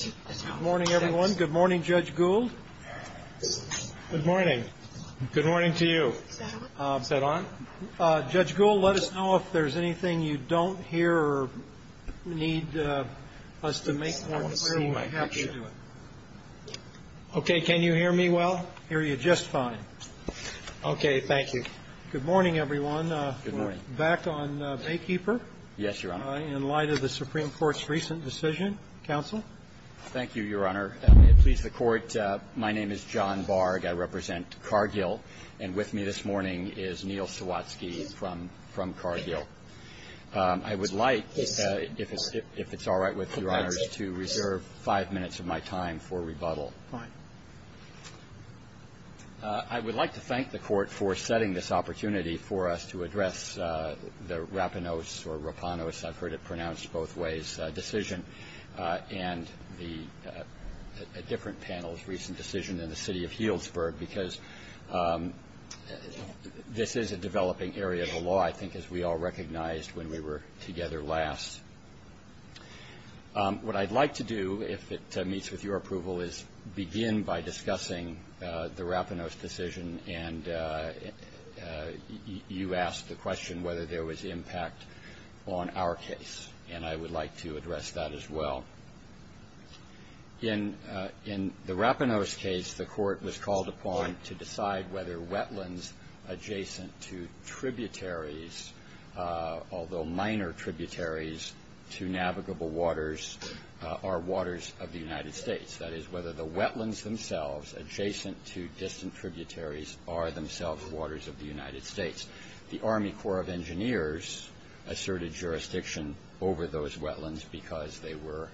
Good morning, everyone. Good morning, Judge Gould. Good morning. Good morning to you. Is that on? Judge Gould, let us know if there's anything you don't hear or need us to make more clear. Okay. Can you hear me well? Hear you just fine. Okay. Thank you. Good morning, everyone. Good morning. Back on Baykeeper. Yes, Your Honor. In light of the Supreme Court's recent decision, counsel? Thank you, Your Honor. May it please the Court, my name is John Barg. I represent Cargill, and with me this morning is Neil Sawatsky from Cargill. I would like, if it's all right with Your Honors, to reserve five minutes of my time for rebuttal. Fine. I would like to thank the Court for setting this opportunity for us to address the Rapinos or Rapinos, I've heard it pronounced both ways, decision, and a different panel's recent decision in the city of Healdsburg because this is a developing area of the law, I think, as we all recognized when we were together last. What I'd like to do, if it meets with your approval, is begin by discussing the Rapinos decision, and you asked the question whether there was impact on our case, and I would like to address that as well. In the Rapinos case, the Court was called upon to decide whether wetlands adjacent to tributaries, although minor tributaries to navigable waters, are waters of the United States. That is, whether the wetlands themselves adjacent to distant tributaries are themselves waters of the United States. The Army Corps of Engineers asserted jurisdiction over those wetlands because they were,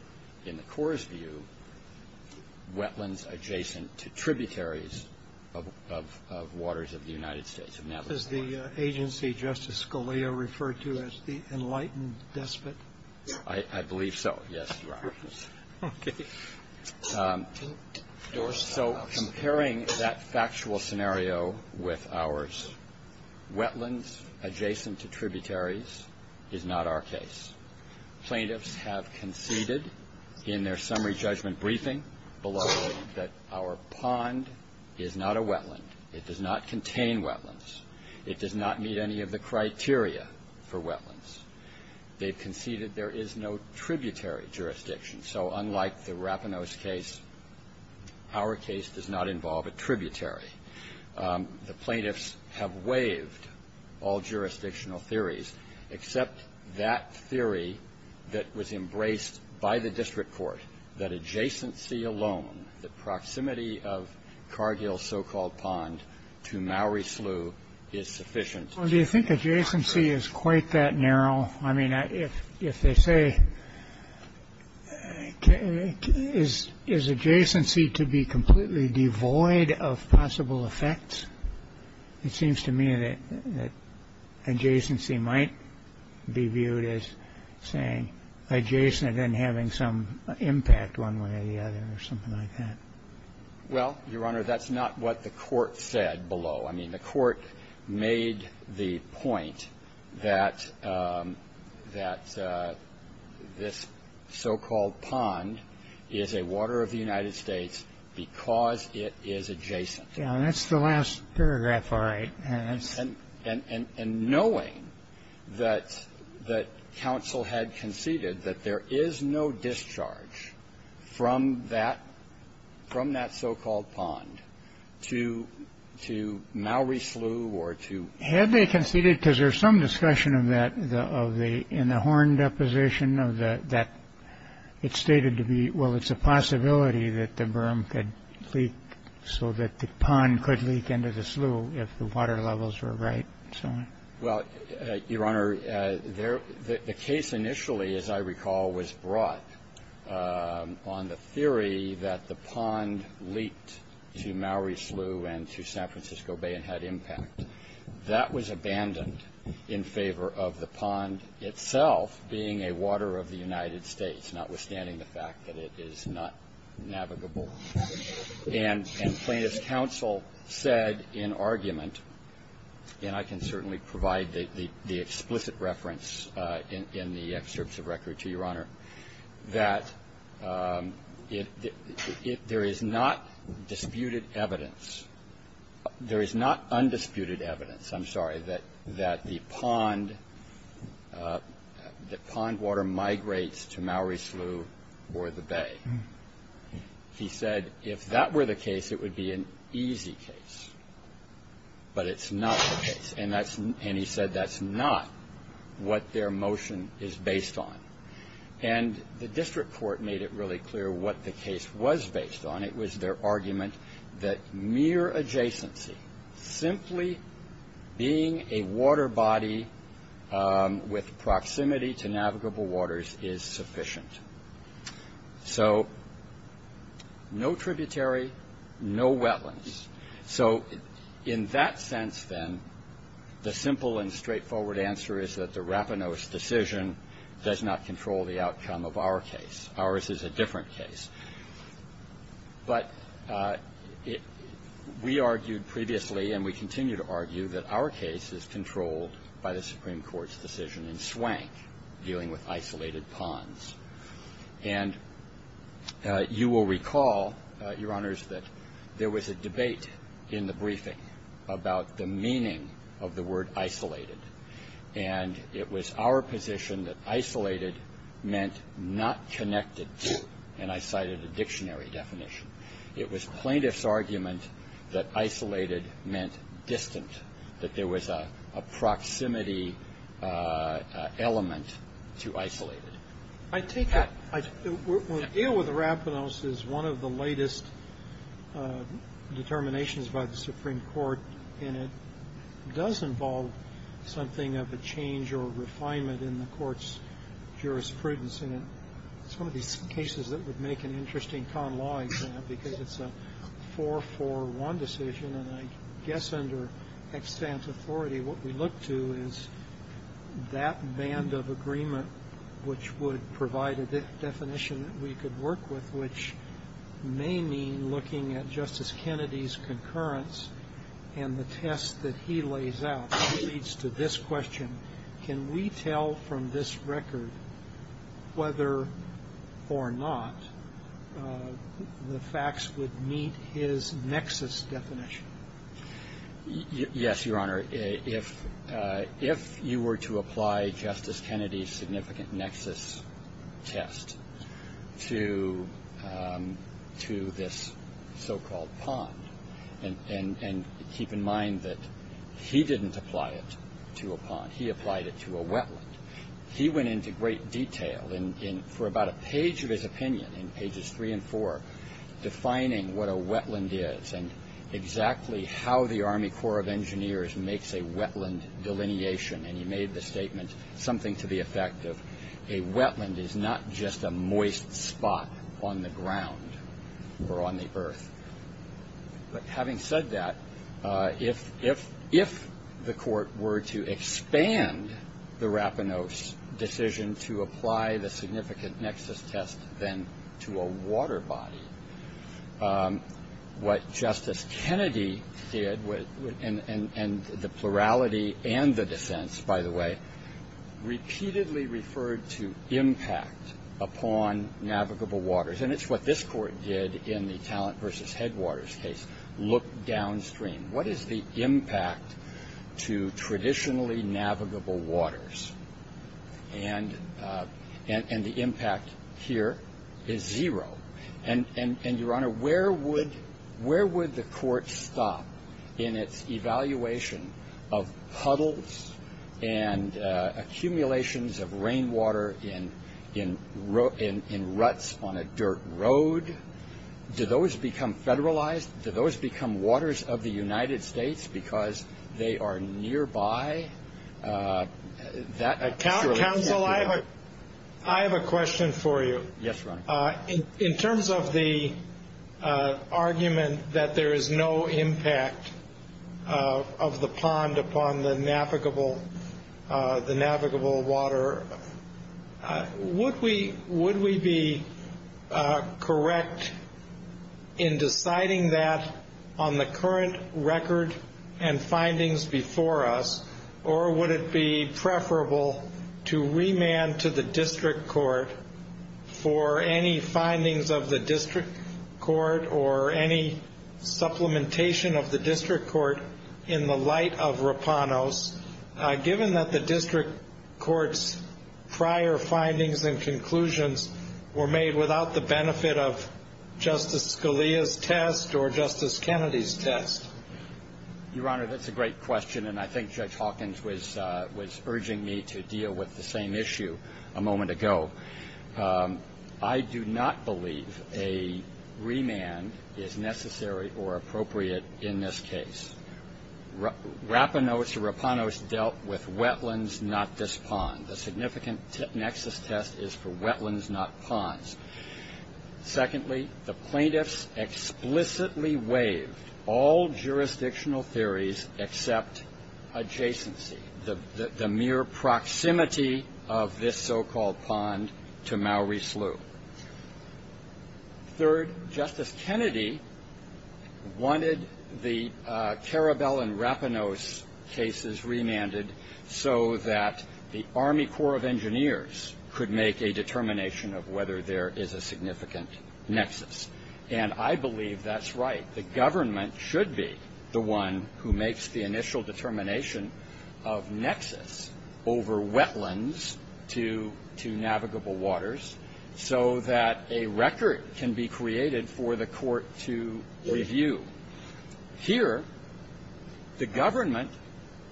in the Corps' view, wetlands adjacent to tributaries of waters of the United States, of navigable waters. Does the agency, Justice Scalia, refer to as the enlightened despot? I believe so, yes, Your Honors. Okay. So comparing that factual scenario with ours, wetlands adjacent to tributaries is not our case. Plaintiffs have conceded in their summary judgment briefing below that our pond is not a wetland. It does not contain wetlands. It does not meet any of the criteria for wetlands. They've conceded there is no tributary jurisdiction. So unlike the Rapinos case, our case does not involve a tributary. The plaintiffs have waived all jurisdictional theories except that theory that was embraced by the district court, that adjacency alone, the proximity of Cargill's so-called pond to Mowry Slough is sufficient. Well, do you think adjacency is quite that narrow? I mean, if they say, is adjacency to be completely devoid of possible effects, it seems to me that adjacency might be viewed as saying adjacent and then having some impact one way or the other or something like that. Well, Your Honor, that's not what the Court said below. I mean, the Court made the point that this so-called pond is a water of the United States because it is adjacent. Yeah. And that's the last paragraph. All right. And knowing that counsel had conceded that there is no discharge from that so-called pond to Mowry Slough or to ---- Had they conceded, because there's some discussion of that in the Horn deposition that it's stated to be, well, it's a possibility that the berm could leak so that the pond could leak into the slough if the water levels were right and so on. Well, Your Honor, the case initially, as I recall, was brought on the theory that the pond to Mowry Slough and to San Francisco Bay had impact. That was abandoned in favor of the pond itself being a water of the United States, notwithstanding the fact that it is not navigable. And plaintiff's counsel said in argument, and I can certainly provide the explicit reference in the excerpts of record to Your Honor, that there is not disputed evidence ---- there is not undisputed evidence, I'm sorry, that the pond water migrates to Mowry Slough or the bay. He said if that were the case, it would be an easy case. But it's not the case. And he said that's not what their motion is based on. And the district court made it really clear what the case was based on. It was their argument that mere adjacency, simply being a water body with proximity to navigable waters is sufficient. So no tributary, no wetlands. So in that sense, then, the simple and straightforward answer is that the Rapinos decision does not control the outcome of our case. Ours is a different case. But we argued previously, and we continue to argue, that our case is controlled by the Supreme Court's decision in Swank dealing with isolated ponds. And you will recall, Your Honors, that there was a debate in the briefing about the meaning of the word isolated. And it was our position that isolated meant not connected to. And I cited a dictionary definition. It was plaintiff's argument that isolated meant distant, that there was a proximity element to isolated. I take it we'll deal with the Rapinos as one of the latest determinations by the Supreme Court. And it does involve something of a change or a refinement in the court's jurisprudence. And it's one of these cases that would make an interesting con law exam because it's a 441 decision. And I guess under extant authority, what we look to is that band of agreement which would provide a definition that we could work with, which may mean looking at Justice Kennedy's concurrence and the test that he lays out. It leads to this question. Can we tell from this record whether or not the facts would meet his nexus definition? Yes, Your Honor. If you were to apply Justice Kennedy's significant nexus test to this so-called pond, and keep in mind that he didn't apply it to a pond. He applied it to a wetland. He went into great detail for about a page of his opinion in pages three and four, defining what a wetland is and exactly how the Army Corps of Engineers makes a wetland delineation. And he made the statement, something to the effect of, a wetland is not just a moist spot on the ground or on the earth. But having said that, if the court were to expand the Rapinos decision to apply the significant nexus test then to a water body, what Justice Kennedy did, and the plurality and the dissents, by the way, repeatedly referred to impact upon navigable waters. And it's what this court did in the Talent v. Headwaters case, look downstream. What is the impact to traditionally navigable waters? And the impact here is zero. And, Your Honor, where would the court stop in its evaluation of puddles and accumulations of rainwater in ruts on a dirt road? Do those become federalized? Do those become waters of the United States because they are nearby? Counsel, I have a question for you. Yes, Your Honor. In terms of the argument that there is no impact of the pond upon the navigable water, would we be correct in deciding that on the current record and findings before us, or would it be preferable to remand to the district court for any findings of the district court or any supplementation of the district court in the light of Rapinos, given that the district court's prior findings and conclusions were made without the benefit of Justice Scalia's test or Justice Kennedy's test? Your Honor, that's a great question, and I think Judge Hawkins was urging me to deal with the same issue a moment ago. I do not believe a remand is necessary or appropriate in this case. Rapinos or Rapanos dealt with wetlands, not this pond. The significant nexus test is for wetlands, not ponds. Secondly, the plaintiffs explicitly waived all jurisdictional theories except adjacency, the mere proximity of this so-called pond to Maury Slough. Third, Justice Kennedy wanted the Karabel and Rapinos cases remanded so that the Army Corps of Engineers could make a determination of whether there is a significant nexus, and I believe that's right. The government should be the one who makes the initial determination of nexus over wetlands to navigable waters, so that a record can be created for the court to review. Here, the government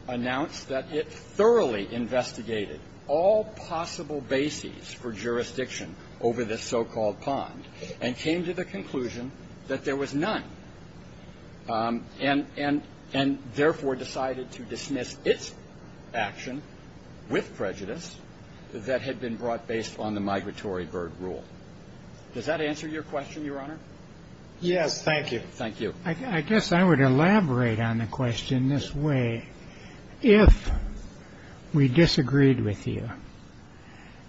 announced that it thoroughly investigated all possible bases for jurisdiction over this so-called pond and came to the conclusion that there was none, and therefore decided to dismiss its action with prejudice that had been brought based on the migratory bird rule. Does that answer your question, Your Honor? Yes, thank you. Thank you. I guess I would elaborate on the question this way. If we disagreed with you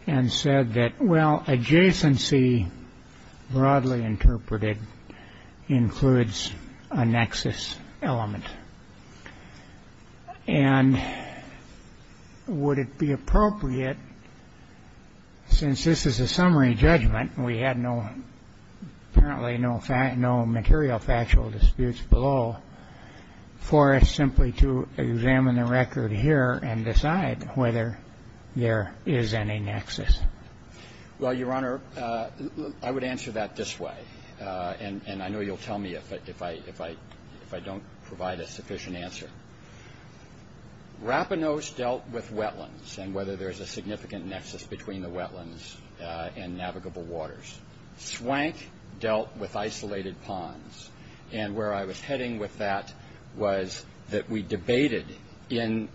and said that, well, adjacency, broadly interpreted, includes a nexus element, and would it be appropriate, since this is a summary judgment, and we had apparently no material factual disputes below, for us simply to examine the record here and decide whether there is any nexus? Well, Your Honor, I would answer that this way, and I know you'll tell me if I don't provide a sufficient answer. Rapinose dealt with wetlands and whether there's a significant nexus between the wetlands and navigable waters. Swank dealt with isolated ponds, and where I was heading with that was that we debated in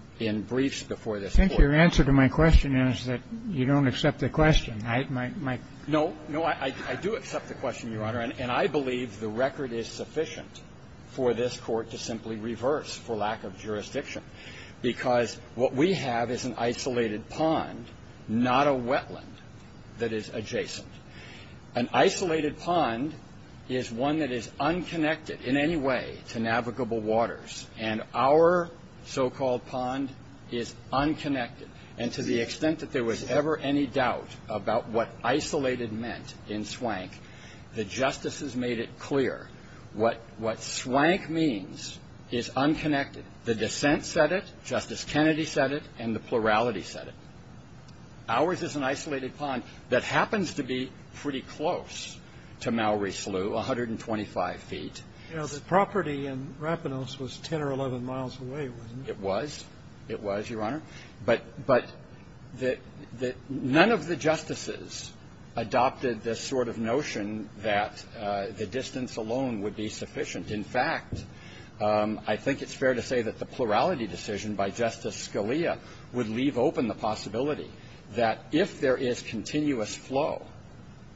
briefs before this court. I think your answer to my question is that you don't accept the question. No, I do accept the question, Your Honor, and I believe the record is sufficient for this court to simply reverse for lack of jurisdiction, because what we have is an isolated pond, not a wetland that is adjacent. An isolated pond is one that is unconnected in any way to navigable waters, and our so-called pond is unconnected. And to the extent that there was ever any doubt about what isolated meant in Swank, the justices made it clear. What Swank means is unconnected. The dissent said it, Justice Kennedy said it, and the plurality said it. Ours is an isolated pond that happens to be pretty close to Mallory Slough, 125 feet. You know, the property in Rapinose was 10 or 11 miles away, wasn't it? It was. It was, Your Honor. But none of the justices adopted this sort of notion that the distance alone would be sufficient. In fact, I think it's fair to say that the plurality decision by Justice Scalia would leave open the possibility that if there is continuous flow,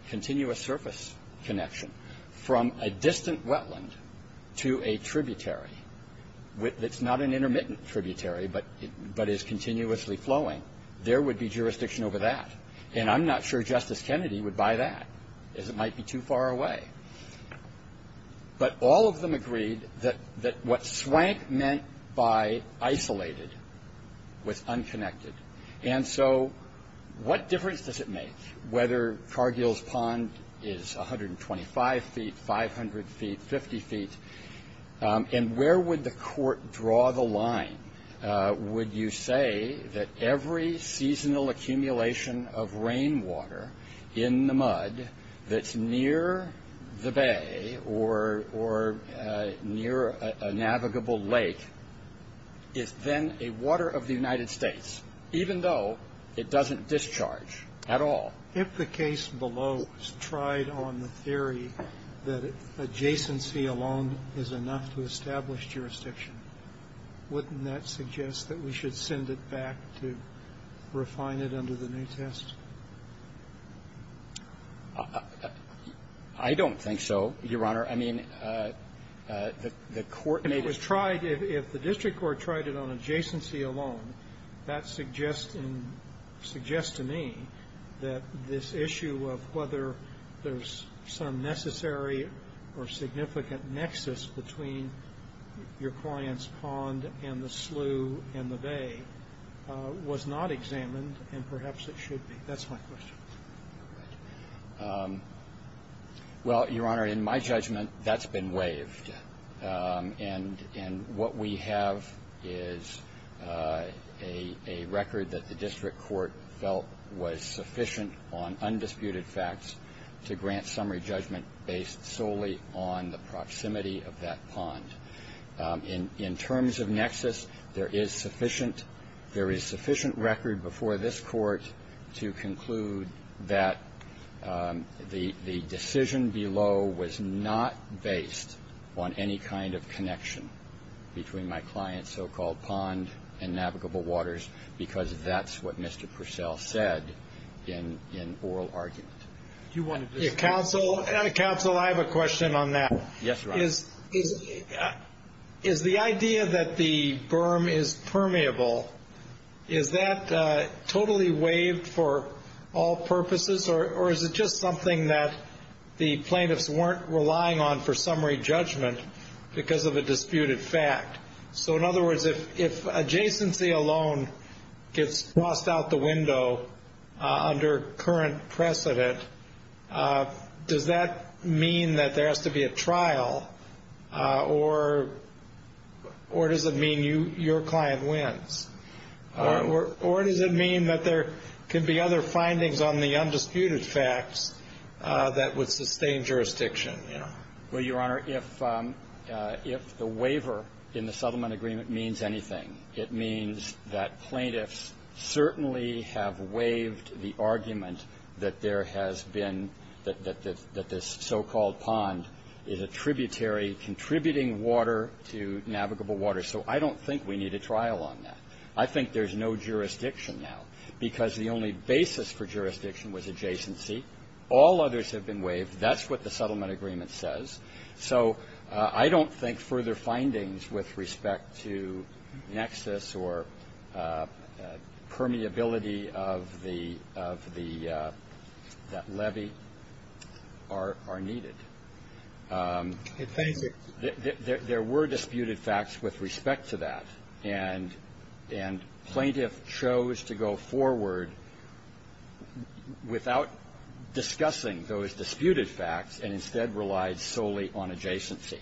continuous surface connection from a distant wetland to a tributary, that's not an intermittent tributary but is continuously flowing, there would be jurisdiction over that. And I'm not sure Justice Kennedy would buy that, as it might be too far away. But all of them agreed that what Swank meant by isolated was unconnected. And so what difference does it make whether Cargill's pond is 125 feet, 500 feet, 50 feet? And where would the court draw the line? Would you say that every seasonal accumulation of rainwater in the mud that's near the bay or near a navigable lake is then a water of the United States, even though it doesn't discharge at all? If the case below is tried on the theory that adjacency alone is enough to establish jurisdiction, wouldn't that suggest that we should send it back to refine it under the new test? I don't think so, Your Honor. If it was tried, if the district court tried it on adjacency alone, that suggests to me that this issue of whether there's some necessary or significant nexus between your client's pond and the slough and the bay was not examined and perhaps it should be. That's my question. Well, Your Honor, in my judgment that's been waived. And what we have is a record that the district court felt was sufficient on undisputed facts to grant summary judgment based solely on the proximity of that pond. In terms of nexus, there is sufficient record before this court to conclude that the decision below was not based on any kind of connection between my client's so-called pond and navigable waters because that's what Mr. Purcell said in oral argument. Counsel, I have a question on that. Yes, Your Honor. Is the idea that the berm is permeable, is that totally waived for all purposes or is it just something that the plaintiffs weren't relying on for summary judgment because of a disputed fact? So, in other words, if adjacency alone gets crossed out the window under current precedent, does that mean that there has to be a trial or does it mean your client wins? Or does it mean that there could be other findings on the undisputed facts that would sustain jurisdiction? Well, Your Honor, if the waiver in the settlement agreement means anything, it means that plaintiffs certainly have waived the argument that there has been that this so-called pond is a tributary contributing water to navigable water. So I don't think we need a trial on that. I think there's no jurisdiction now because the only basis for jurisdiction was adjacency. All others have been waived. That's what the settlement agreement says. So I don't think further findings with respect to nexus or permeability of the levy are needed. There were disputed facts with respect to that. And plaintiff chose to go forward without discussing those disputed facts and instead relied solely on adjacency.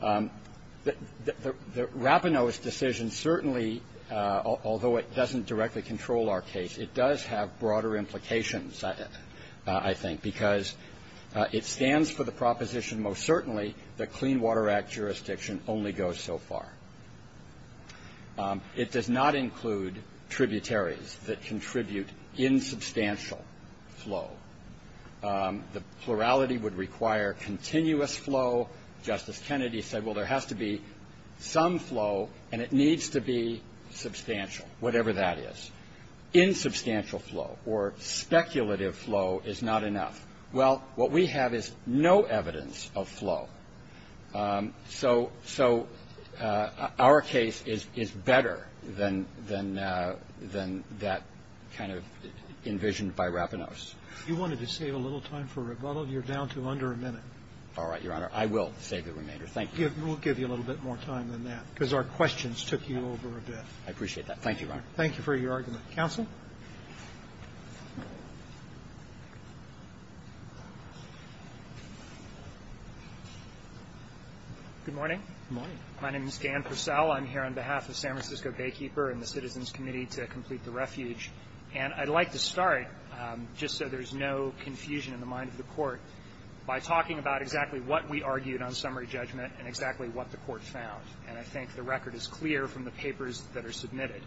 The Rapinoe's decision certainly, although it doesn't directly control our case, it does have broader implications, I think, because it stands for the proposition most certainly that Clean Water Act jurisdiction only goes so far. It does not include tributaries that contribute insubstantial flow. The plurality would require continuous flow. Justice Kennedy said, well, there has to be some flow and it needs to be substantial, whatever that is. Insubstantial flow or speculative flow is not enough. Well, what we have is no evidence of flow. So our case is better than that kind of envisioned by Rapinoe's. You wanted to save a little time for rebuttal. You're down to under a minute. All right, Your Honor. I will save the remainder. Thank you. We'll give you a little bit more time than that, because our questions took you over a bit. I appreciate that. Thank you, Your Honor. Thank you for your argument. Counsel. Good morning. Good morning. My name is Dan Purcell. I'm here on behalf of San Francisco Baykeeper and the Citizens Committee to complete the refuge. And I'd like to start, just so there's no confusion in the mind of the Court, by talking about exactly what we argued on summary judgment and exactly what the Court found. And I think the record is clear from the papers that are submitted.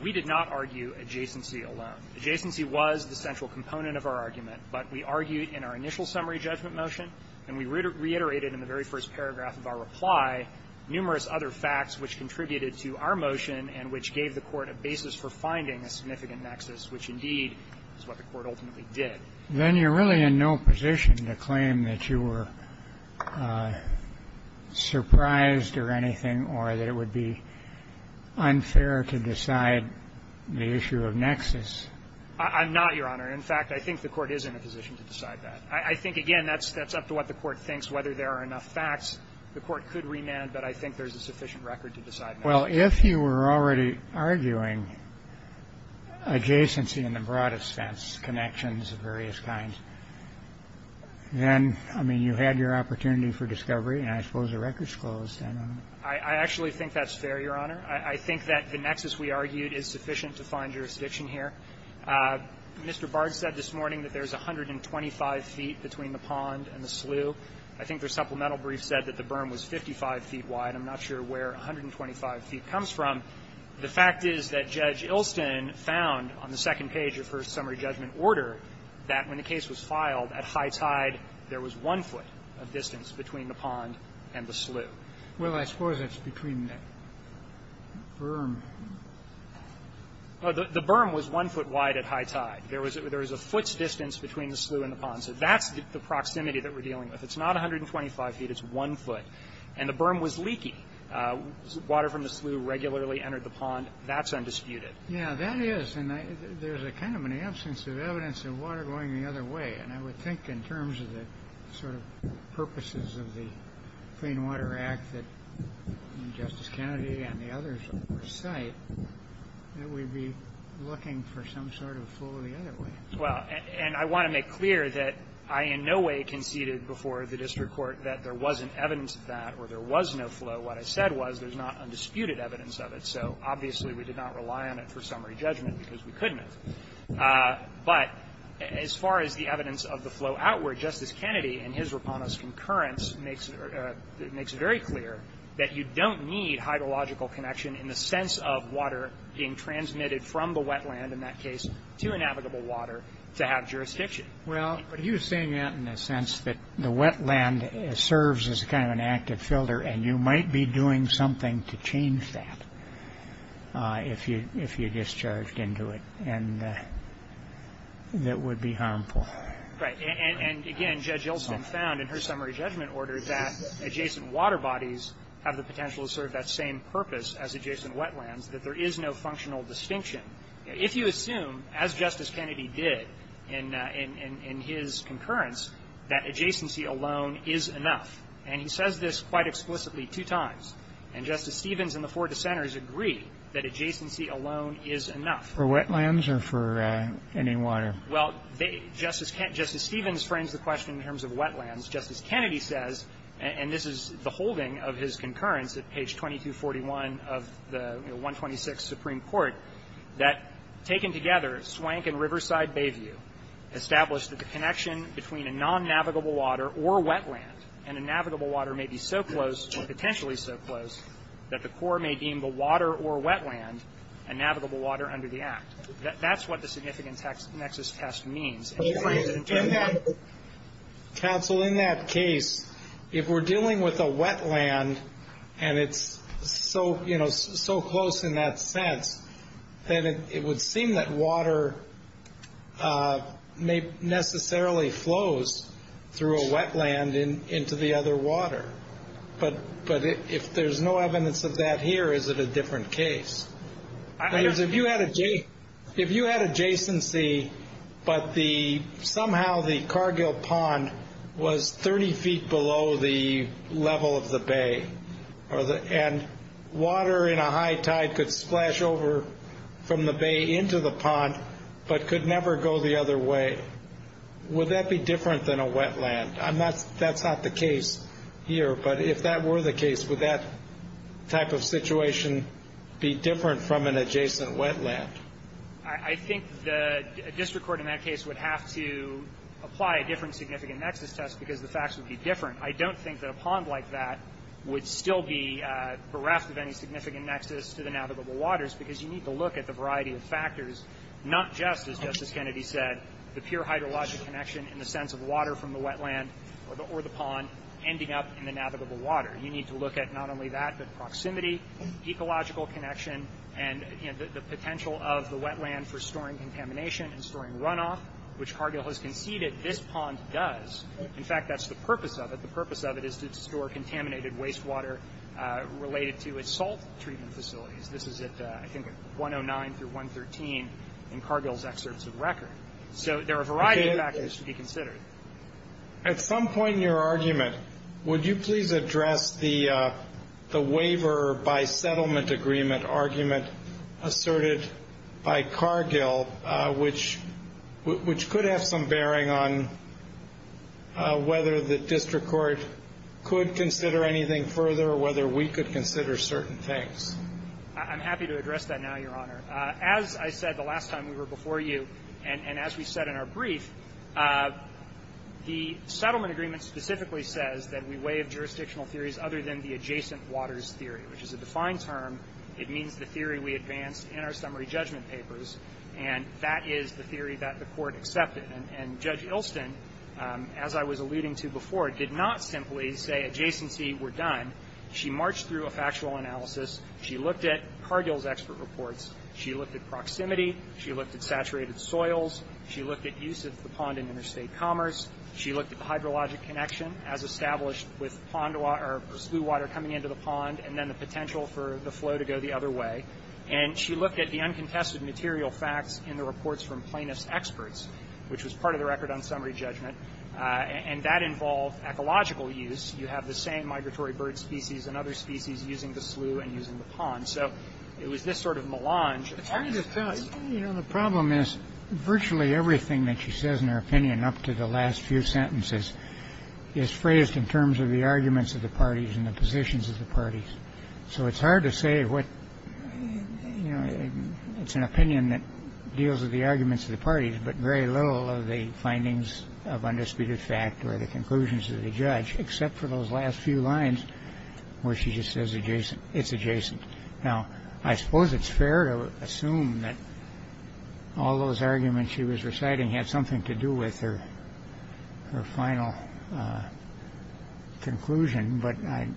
We did not argue adjacency alone. Adjacency was the central component of our argument, but we argued in our initial summary judgment motion, and we reiterated in the very first paragraph of our reply numerous other facts which contributed to our motion and which gave the Court a basis for finding a significant nexus, which, indeed, is what the Court ultimately did. Then you're really in no position to claim that you were surprised or anything or that it would be unfair to decide the issue of nexus. I'm not, Your Honor. In fact, I think the Court is in a position to decide that. I think, again, that's up to what the Court thinks. Whether there are enough facts, the Court could remand, but I think there's a sufficient record to decide nexus. Well, if you were already arguing adjacency in the broadest sense, connections of various kinds, then, I mean, you had your opportunity for discovery, and I suppose the record's closed. I don't know. I actually think that's fair, Your Honor. I think that the nexus we argued is sufficient to find jurisdiction here. Mr. Bard said this morning that there's 125 feet between the pond and the slough. I think their supplemental brief said that the berm was 55 feet wide. I'm not sure where 125 feet comes from. The fact is that Judge Ilston found on the second page of her summary judgment order that when the case was filed at high tide, there was one foot of distance between the pond and the slough. Well, I suppose it's between the berm. The berm was one foot wide at high tide. There was a foot's distance between the slough and the pond. So that's the proximity that we're dealing with. It's not 125 feet. It's one foot. And the berm was leaky. Water from the slough regularly entered the pond. That's undisputed. Yeah, that is. And there's a kind of an absence of evidence of water going the other way. And I would think in terms of the sort of purposes of the Clean Water Act that Justice Kennedy and the others recite that we'd be looking for some sort of flow the other way. Well, and I want to make clear that I in no way conceded before the district court that there wasn't evidence of that or there was no flow. What I said was there's not undisputed evidence of it. So, obviously, we did not rely on it for summary judgment because we couldn't have. But as far as the evidence of the flow outward, Justice Kennedy in his Rapano's concurrence makes it very clear that you don't need hydrological connection in the sense of water being transmitted from the wetland in that case to inavigable water to have jurisdiction. Well, he was saying that in a sense that the wetland serves as kind of an active filter and you might be doing something to change that if you discharged into it and that would be harmful. Right. And, again, Judge Olson found in her summary judgment order that adjacent water bodies have the potential to serve that same purpose as adjacent wetlands, that there is no functional distinction. If you assume, as Justice Kennedy did in his concurrence, that adjacency alone is enough, and he says this quite explicitly two times, and Justice Stevens and the four dissenters agree that adjacency alone is enough. For wetlands or for any water? Well, Justice Stevens frames the question in terms of wetlands. Justice Kennedy says, and this is the holding of his concurrence at page 2241 of the Supreme Court, that taken together, Swank and Riverside Bayview established that the connection between a non-navigable water or wetland and a navigable water may be so close or potentially so close that the court may deem the water or wetland a navigable water under the Act. That's what the significant nexus test means. Counsel, in that case, if we're dealing with a wetland and it's so, you know, so close in that sense, then it would seem that water may necessarily flows through a wetland into the other water. But if there's no evidence of that here, is it a different case? If you had adjacency, but somehow the Cargill Pond was 30 feet below the level of the bay into the pond but could never go the other way, would that be different than a wetland? That's not the case here, but if that were the case, would that type of situation be different from an adjacent wetland? I think the district court in that case would have to apply a different significant nexus test because the facts would be different. I don't think that a pond like that would still be bereft of any significant nexus to the navigable waters because you need to look at the variety of factors, not just, as Justice Kennedy said, the pure hydrologic connection in the sense of water from the wetland or the pond ending up in the navigable water. You need to look at not only that, but proximity, ecological connection, and the potential of the wetland for storing contamination and storing runoff, which Cargill has conceded this pond does. In fact, that's the purpose of it. The purpose of it is to store contaminated wastewater related to assault treatment facilities. This is at, I think, 109 through 113 in Cargill's excerpts of record. So there are a variety of factors to be considered. At some point in your argument, would you please address the waiver by settlement agreement argument asserted by Cargill, which could have some bearing on whether the district court could consider anything further or whether we could consider certain things? I'm happy to address that now, Your Honor. As I said the last time we were before you, and as we said in our brief, the settlement agreement specifically says that we waive jurisdictional theories other than the adjacent waters theory, which is a defined term. It means the theory we advance in our summary judgment papers, and that is the theory that the Court accepted. And Judge Ilston, as I was alluding to before, did not simply say adjacency. We're done. She marched through a factual analysis. She looked at Cargill's expert reports. She looked at proximity. She looked at saturated soils. She looked at use of the pond in interstate commerce. She looked at the hydrologic connection, as established, with pond water, or slew water coming into the pond, and then the potential for the flow to go the other way. And she looked at the uncontested material facts in the reports from plaintiff's experts, which was part of the record on summary judgment. And that involved ecological use. You have the same migratory bird species and other species using the slew and using the pond. So it was this sort of melange. The problem is virtually everything that she says in her opinion up to the last few sentences is phrased in terms of the arguments of the parties and the positions of the parties. So it's hard to say what, you know, it's an opinion that deals with the arguments of the parties, but very little of the findings of undisputed fact or the conclusions of the judge, except for those last few lines where she just says adjacent, it's adjacent. Now, I suppose it's fair to assume that all those arguments she was reciting had something to do with her final conclusion, but I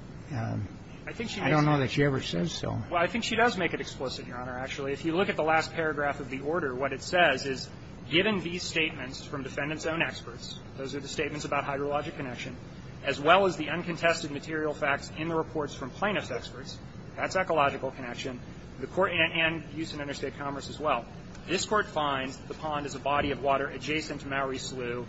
don't know that she ever says so. Well, I think she does make it explicit, Your Honor, actually. If you look at the last paragraph of the order, what it says is given these statements from defendant's own experts, those are the statements about hydrologic connection, as well as the uncontested material facts in the reports from plaintiff's experts, that's ecological connection, and use in interstate commerce as well. This Court finds the pond is a body of water adjacent to Maori slew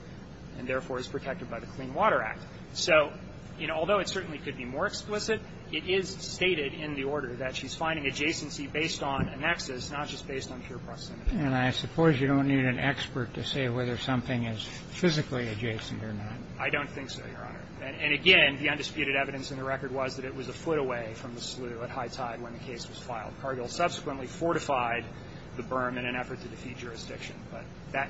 and, therefore, is protected by the Clean Water Act. So, you know, although it certainly could be more explicit, it is stated in the order that she's finding adjacency based on a nexus, not just based on pure proximity. And I suppose you don't need an expert to say whether something is physically adjacent or not. I don't think so, Your Honor. And, again, the undisputed evidence in the record was that it was a foot away from the slew at high tide when the case was filed. Cargill subsequently fortified the berm in an effort to defeat jurisdiction, but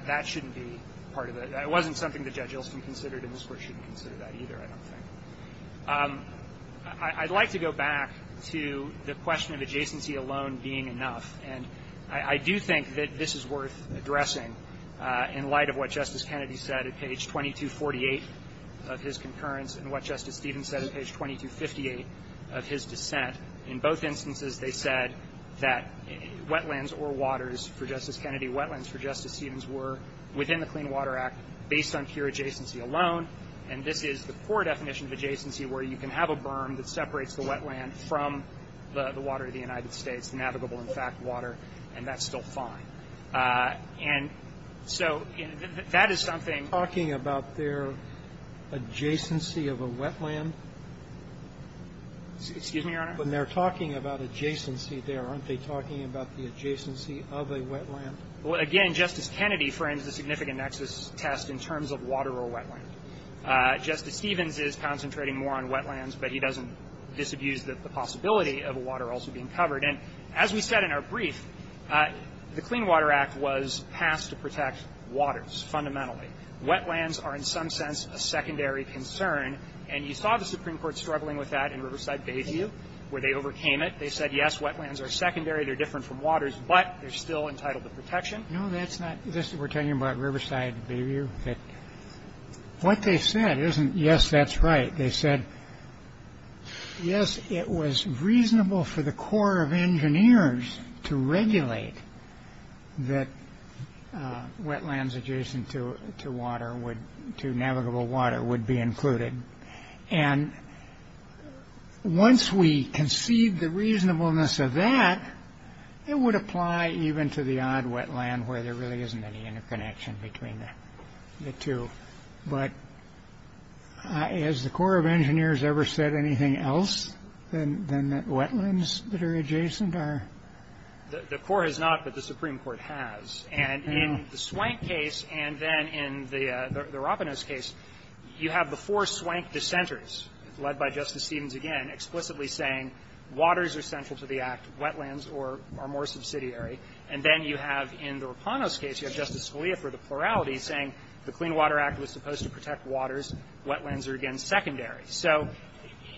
that shouldn't be part of it. It wasn't something that Judge Ilston considered and this Court shouldn't consider that either, I don't think. I'd like to go back to the question of adjacency alone being enough. And I do think that this is worth addressing in light of what Justice Kennedy said at page 2248 of his concurrence and what Justice Stevens said at page 2258 of his dissent. In both instances, they said that wetlands or waters for Justice Kennedy, wetlands for Justice Stevens were within the Clean Water Act based on pure adjacency alone. And this is the core definition of adjacency where you can have a berm that separates the wetland from the water of the United States, navigable, in fact, water, and that's still fine. And so that is something. Talking about their adjacency of a wetland? Excuse me, Your Honor? When they're talking about adjacency there, aren't they talking about the adjacency of a wetland? Well, again, Justice Kennedy frames the significant nexus test in terms of water or wetland. Justice Stevens is concentrating more on wetlands, but he doesn't disabuse the possibility of a water also being covered. And as we said in our brief, the Clean Water Act was passed to protect waters fundamentally. Wetlands are in some sense a secondary concern. And you saw the Supreme Court struggling with that in Riverside Bayview where they overcame it. They said, yes, wetlands are secondary, they're different from waters, but they're still entitled to protection. We're talking about Riverside Bayview? What they said isn't, yes, that's right. They said, yes, it was reasonable for the Corps of Engineers to regulate that wetlands adjacent to navigable water would be included. And once we concede the reasonableness of that, it would apply even to the Riverside wetland where there really isn't any interconnection between the two. But has the Corps of Engineers ever said anything else than that wetlands that are adjacent are? The Corps has not, but the Supreme Court has. And in the Swank case and then in the Ropinos case, you have the four Swank dissenters, led by Justice Stevens again, explicitly saying waters are central to the Act, wetlands are more subsidiary. And then you have in the Ropinos case, you have Justice Scalia for the plurality saying the Clean Water Act was supposed to protect waters, wetlands are again secondary. So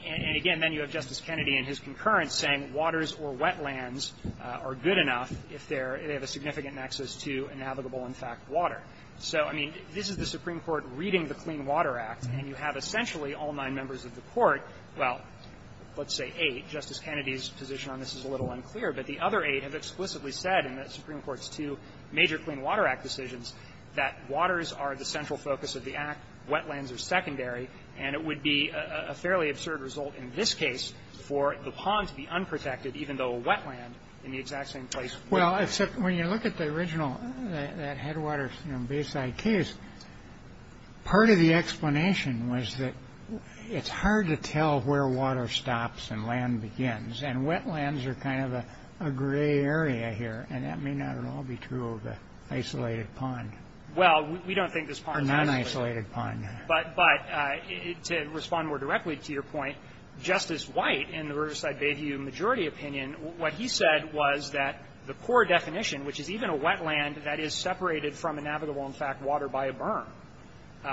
and again, then you have Justice Kennedy in his concurrence saying waters or wetlands are good enough if they're they have a significant nexus to navigable, in fact, water. So, I mean, this is the Supreme Court reading the Clean Water Act, and you have essentially all nine members of the Court, well, let's say eight. Justice Kennedy's position on this is a little unclear. But the other eight have explicitly said in the Supreme Court's two major Clean Water Act decisions that waters are the central focus of the Act, wetlands are secondary, and it would be a fairly absurd result in this case for the pond to be unprotected even though a wetland in the exact same place would be. Well, except when you look at the original, that headwaters, you know, Bayside case, part of the explanation was that it's hard to tell where water stops and land begins. And wetlands are kind of a gray area here, and that may not at all be true of the isolated pond. Well, we don't think this pond is isolated. Or non-isolated pond. But to respond more directly to your point, Justice White in the Riverside Bayview majority opinion, what he said was that the core definition, which is even a wetland that is separated from a navigable, in fact, water by a berm,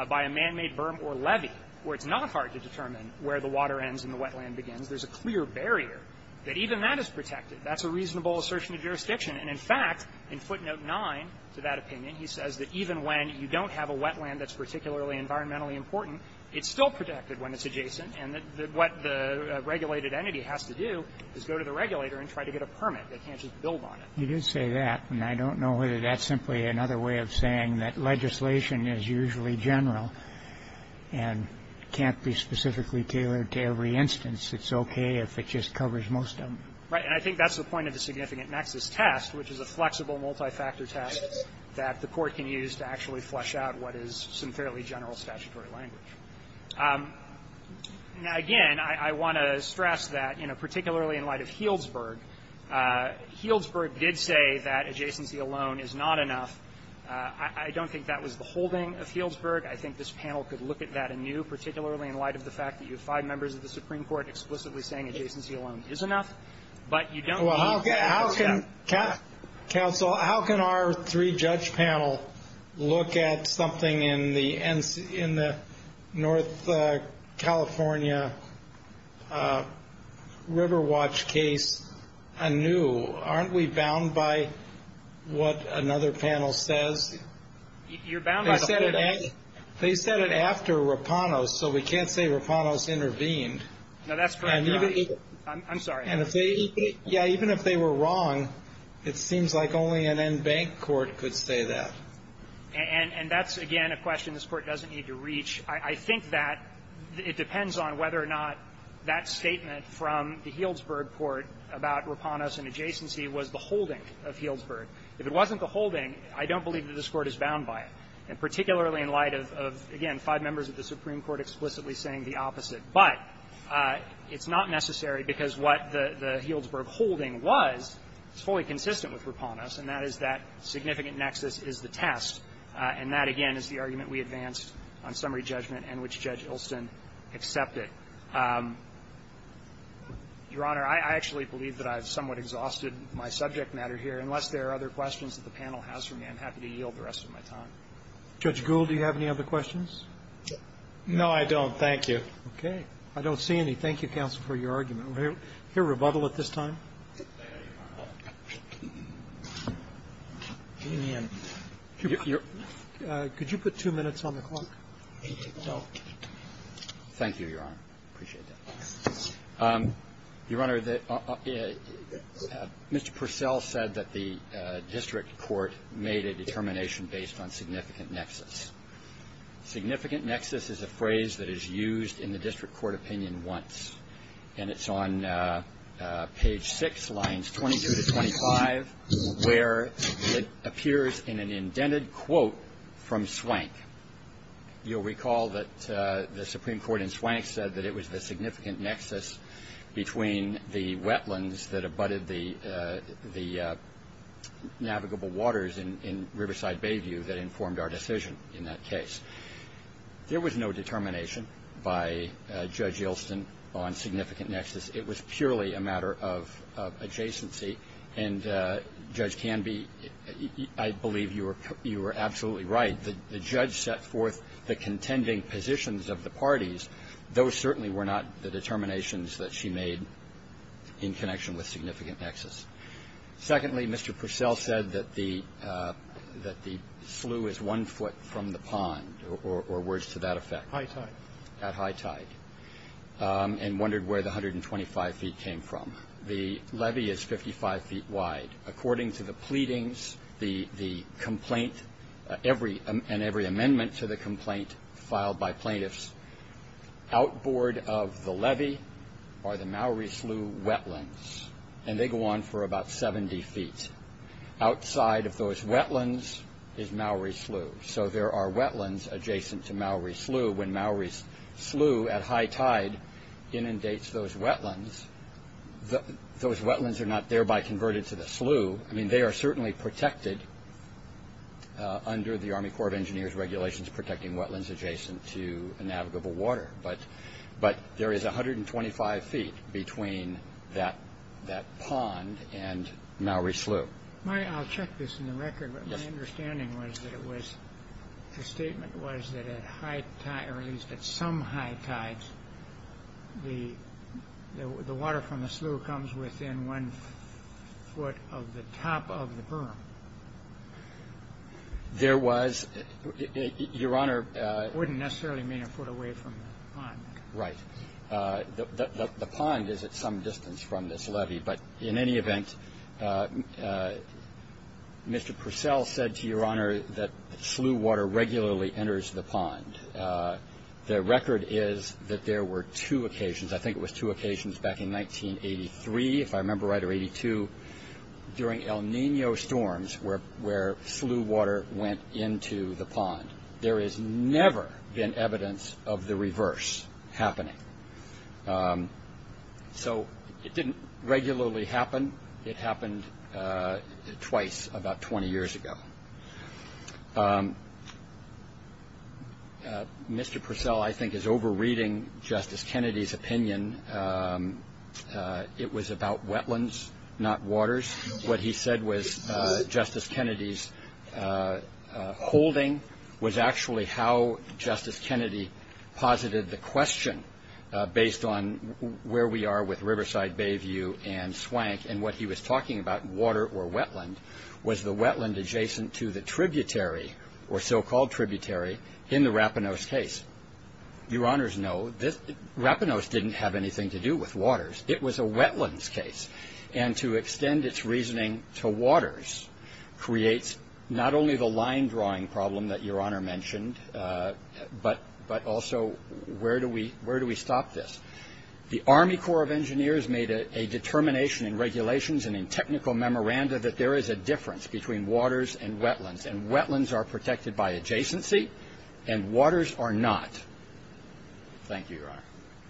by a man-made berm or levee, where it's not hard to determine where the water ends and the wetland begins, there's a clear barrier that even that is protected. That's a reasonable assertion of jurisdiction. And in fact, in footnote 9 to that opinion, he says that even when you don't have a wetland that's particularly environmentally important, it's still protected when it's adjacent, and what the regulated entity has to do is go to the regulator and try to get a permit. They can't just build on it. You did say that, and I don't know whether that's simply another way of saying that legislation is usually general and can't be specifically tailored to every instance. It's okay if it just covers most of them. Right. And I think that's the point of the significant nexus test, which is a flexible multi-factor test that the court can use to actually flesh out what is some fairly general statutory language. Now, again, I want to stress that, you know, particularly in light of Healdsburg, Healdsburg did say that adjacency alone is not enough. I don't think that was the holding of Healdsburg. I think this panel could look at that anew, particularly in light of the fact that you have five members of the Supreme Court explicitly saying adjacency alone is enough. But you don't need to look at that. Counsel, how can our three-judge panel look at something in the North California River Watch case anew? Aren't we bound by what another panel says? You're bound by the panel. They said it after Rapanos, so we can't say Rapanos intervened. No, that's correct, Your Honor. I'm sorry. Yeah. Even if they were wrong, it seems like only an en banc court could say that. And that's, again, a question this Court doesn't need to reach. I think that it depends on whether or not that statement from the Healdsburg court about Rapanos and adjacency was the holding of Healdsburg. If it wasn't the holding, I don't believe that this Court is bound by it, and particularly in light of, again, five members of the Supreme Court explicitly saying the opposite. But it's not necessary because what the Healdsburg holding was is fully consistent with Rapanos, and that is that significant nexus is the test. And that, again, is the argument we advanced on summary judgment and which Judge Ilson accepted. Your Honor, I actually believe that I've somewhat exhausted my subject matter here. Unless there are other questions that the panel has for me, I'm happy to yield the rest of my time. Judge Gould, do you have any other questions? No, I don't. Thank you. Okay. I don't see any. Thank you, counsel, for your argument. We'll hear rebuttal at this time. Could you put two minutes on the clock? Thank you, Your Honor. Appreciate that. Your Honor, Mr. Purcell said that the district court made a determination based on significant nexus. Significant nexus is a phrase that is used in the district court opinion once, and it's on page 6, lines 22 to 25, where it appears in an indented quote from Swank. You'll recall that the Supreme Court in Swank said that it was the significant nexus between the wetlands that abutted the navigable waters in Riverside Bayview that informed our decision in that case. There was no determination by Judge Ilson on significant nexus. It was purely a matter of adjacency. And, Judge Canby, I believe you were absolutely right. The judge set forth the contending positions of the parties. Those certainly were not the determinations that she made in connection with significant nexus. Secondly, Mr. Purcell said that the slew is one foot from the pond, or words to that effect. High tide. At high tide, and wondered where the 125 feet came from. The levee is 55 feet wide. According to the pleadings, and every amendment to the complaint filed by plaintiffs, outboard of the levee are the Maori slew wetlands. And they go on for about 70 feet. Outside of those wetlands is Maori slew. So there are wetlands adjacent to Maori slew. When Maori slew at high tide inundates those wetlands, those wetlands are not thereby converted to the slew. I mean, they are certainly protected under the Army Corps of Engineers regulations protecting wetlands adjacent to navigable water. But there is 125 feet between that pond and Maori slew. I'll check this in the record. My understanding was that it was the statement was that at high tide, or at least at some high tides, the water from the slew comes within one foot of the top of the berm. There was, Your Honor. Wouldn't necessarily mean a foot away from the pond. Right. The pond is at some distance from this levee. But in any event, Mr. Purcell said to Your Honor that slew water regularly enters the pond. The record is that there were two occasions. I think it was two occasions back in 1983, if I remember right, or 82, during El Nino storms where slew water went into the pond. There has never been evidence of the reverse happening. So it didn't regularly happen. It happened twice about 20 years ago. Mr. Purcell, I think, is over-reading Justice Kennedy's opinion. It was about wetlands, not waters. What he said was Justice Kennedy's holding was actually how Justice Kennedy posited the question, based on where we are with Riverside Bayview and Swank, and what he was talking about, water or wetland, was the wetland adjacent to the tributary or so-called tributary in the Rapinos case. Your Honors know Rapinos didn't have anything to do with waters. It was a wetlands case. And to extend its reasoning to waters creates not only the line-drawing problem that Your Honor mentioned, but also where do we stop this? The Army Corps of Engineers made a determination in regulations and in technical memoranda that there is a difference between waters and wetlands, and wetlands are protected by adjacency and waters are not. Thank you, Your Honor.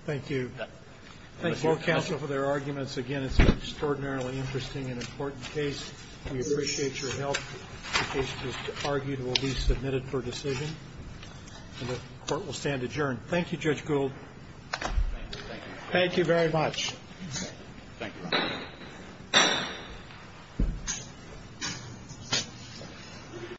Thank you. Thank you, Counsel, for their arguments. Again, it's an extraordinarily interesting and important case. We appreciate your help. The case is argued and will be submitted for decision. And the Court will stand adjourned. Thank you, Judge Gould. Thank you. Thank you very much. Thank you.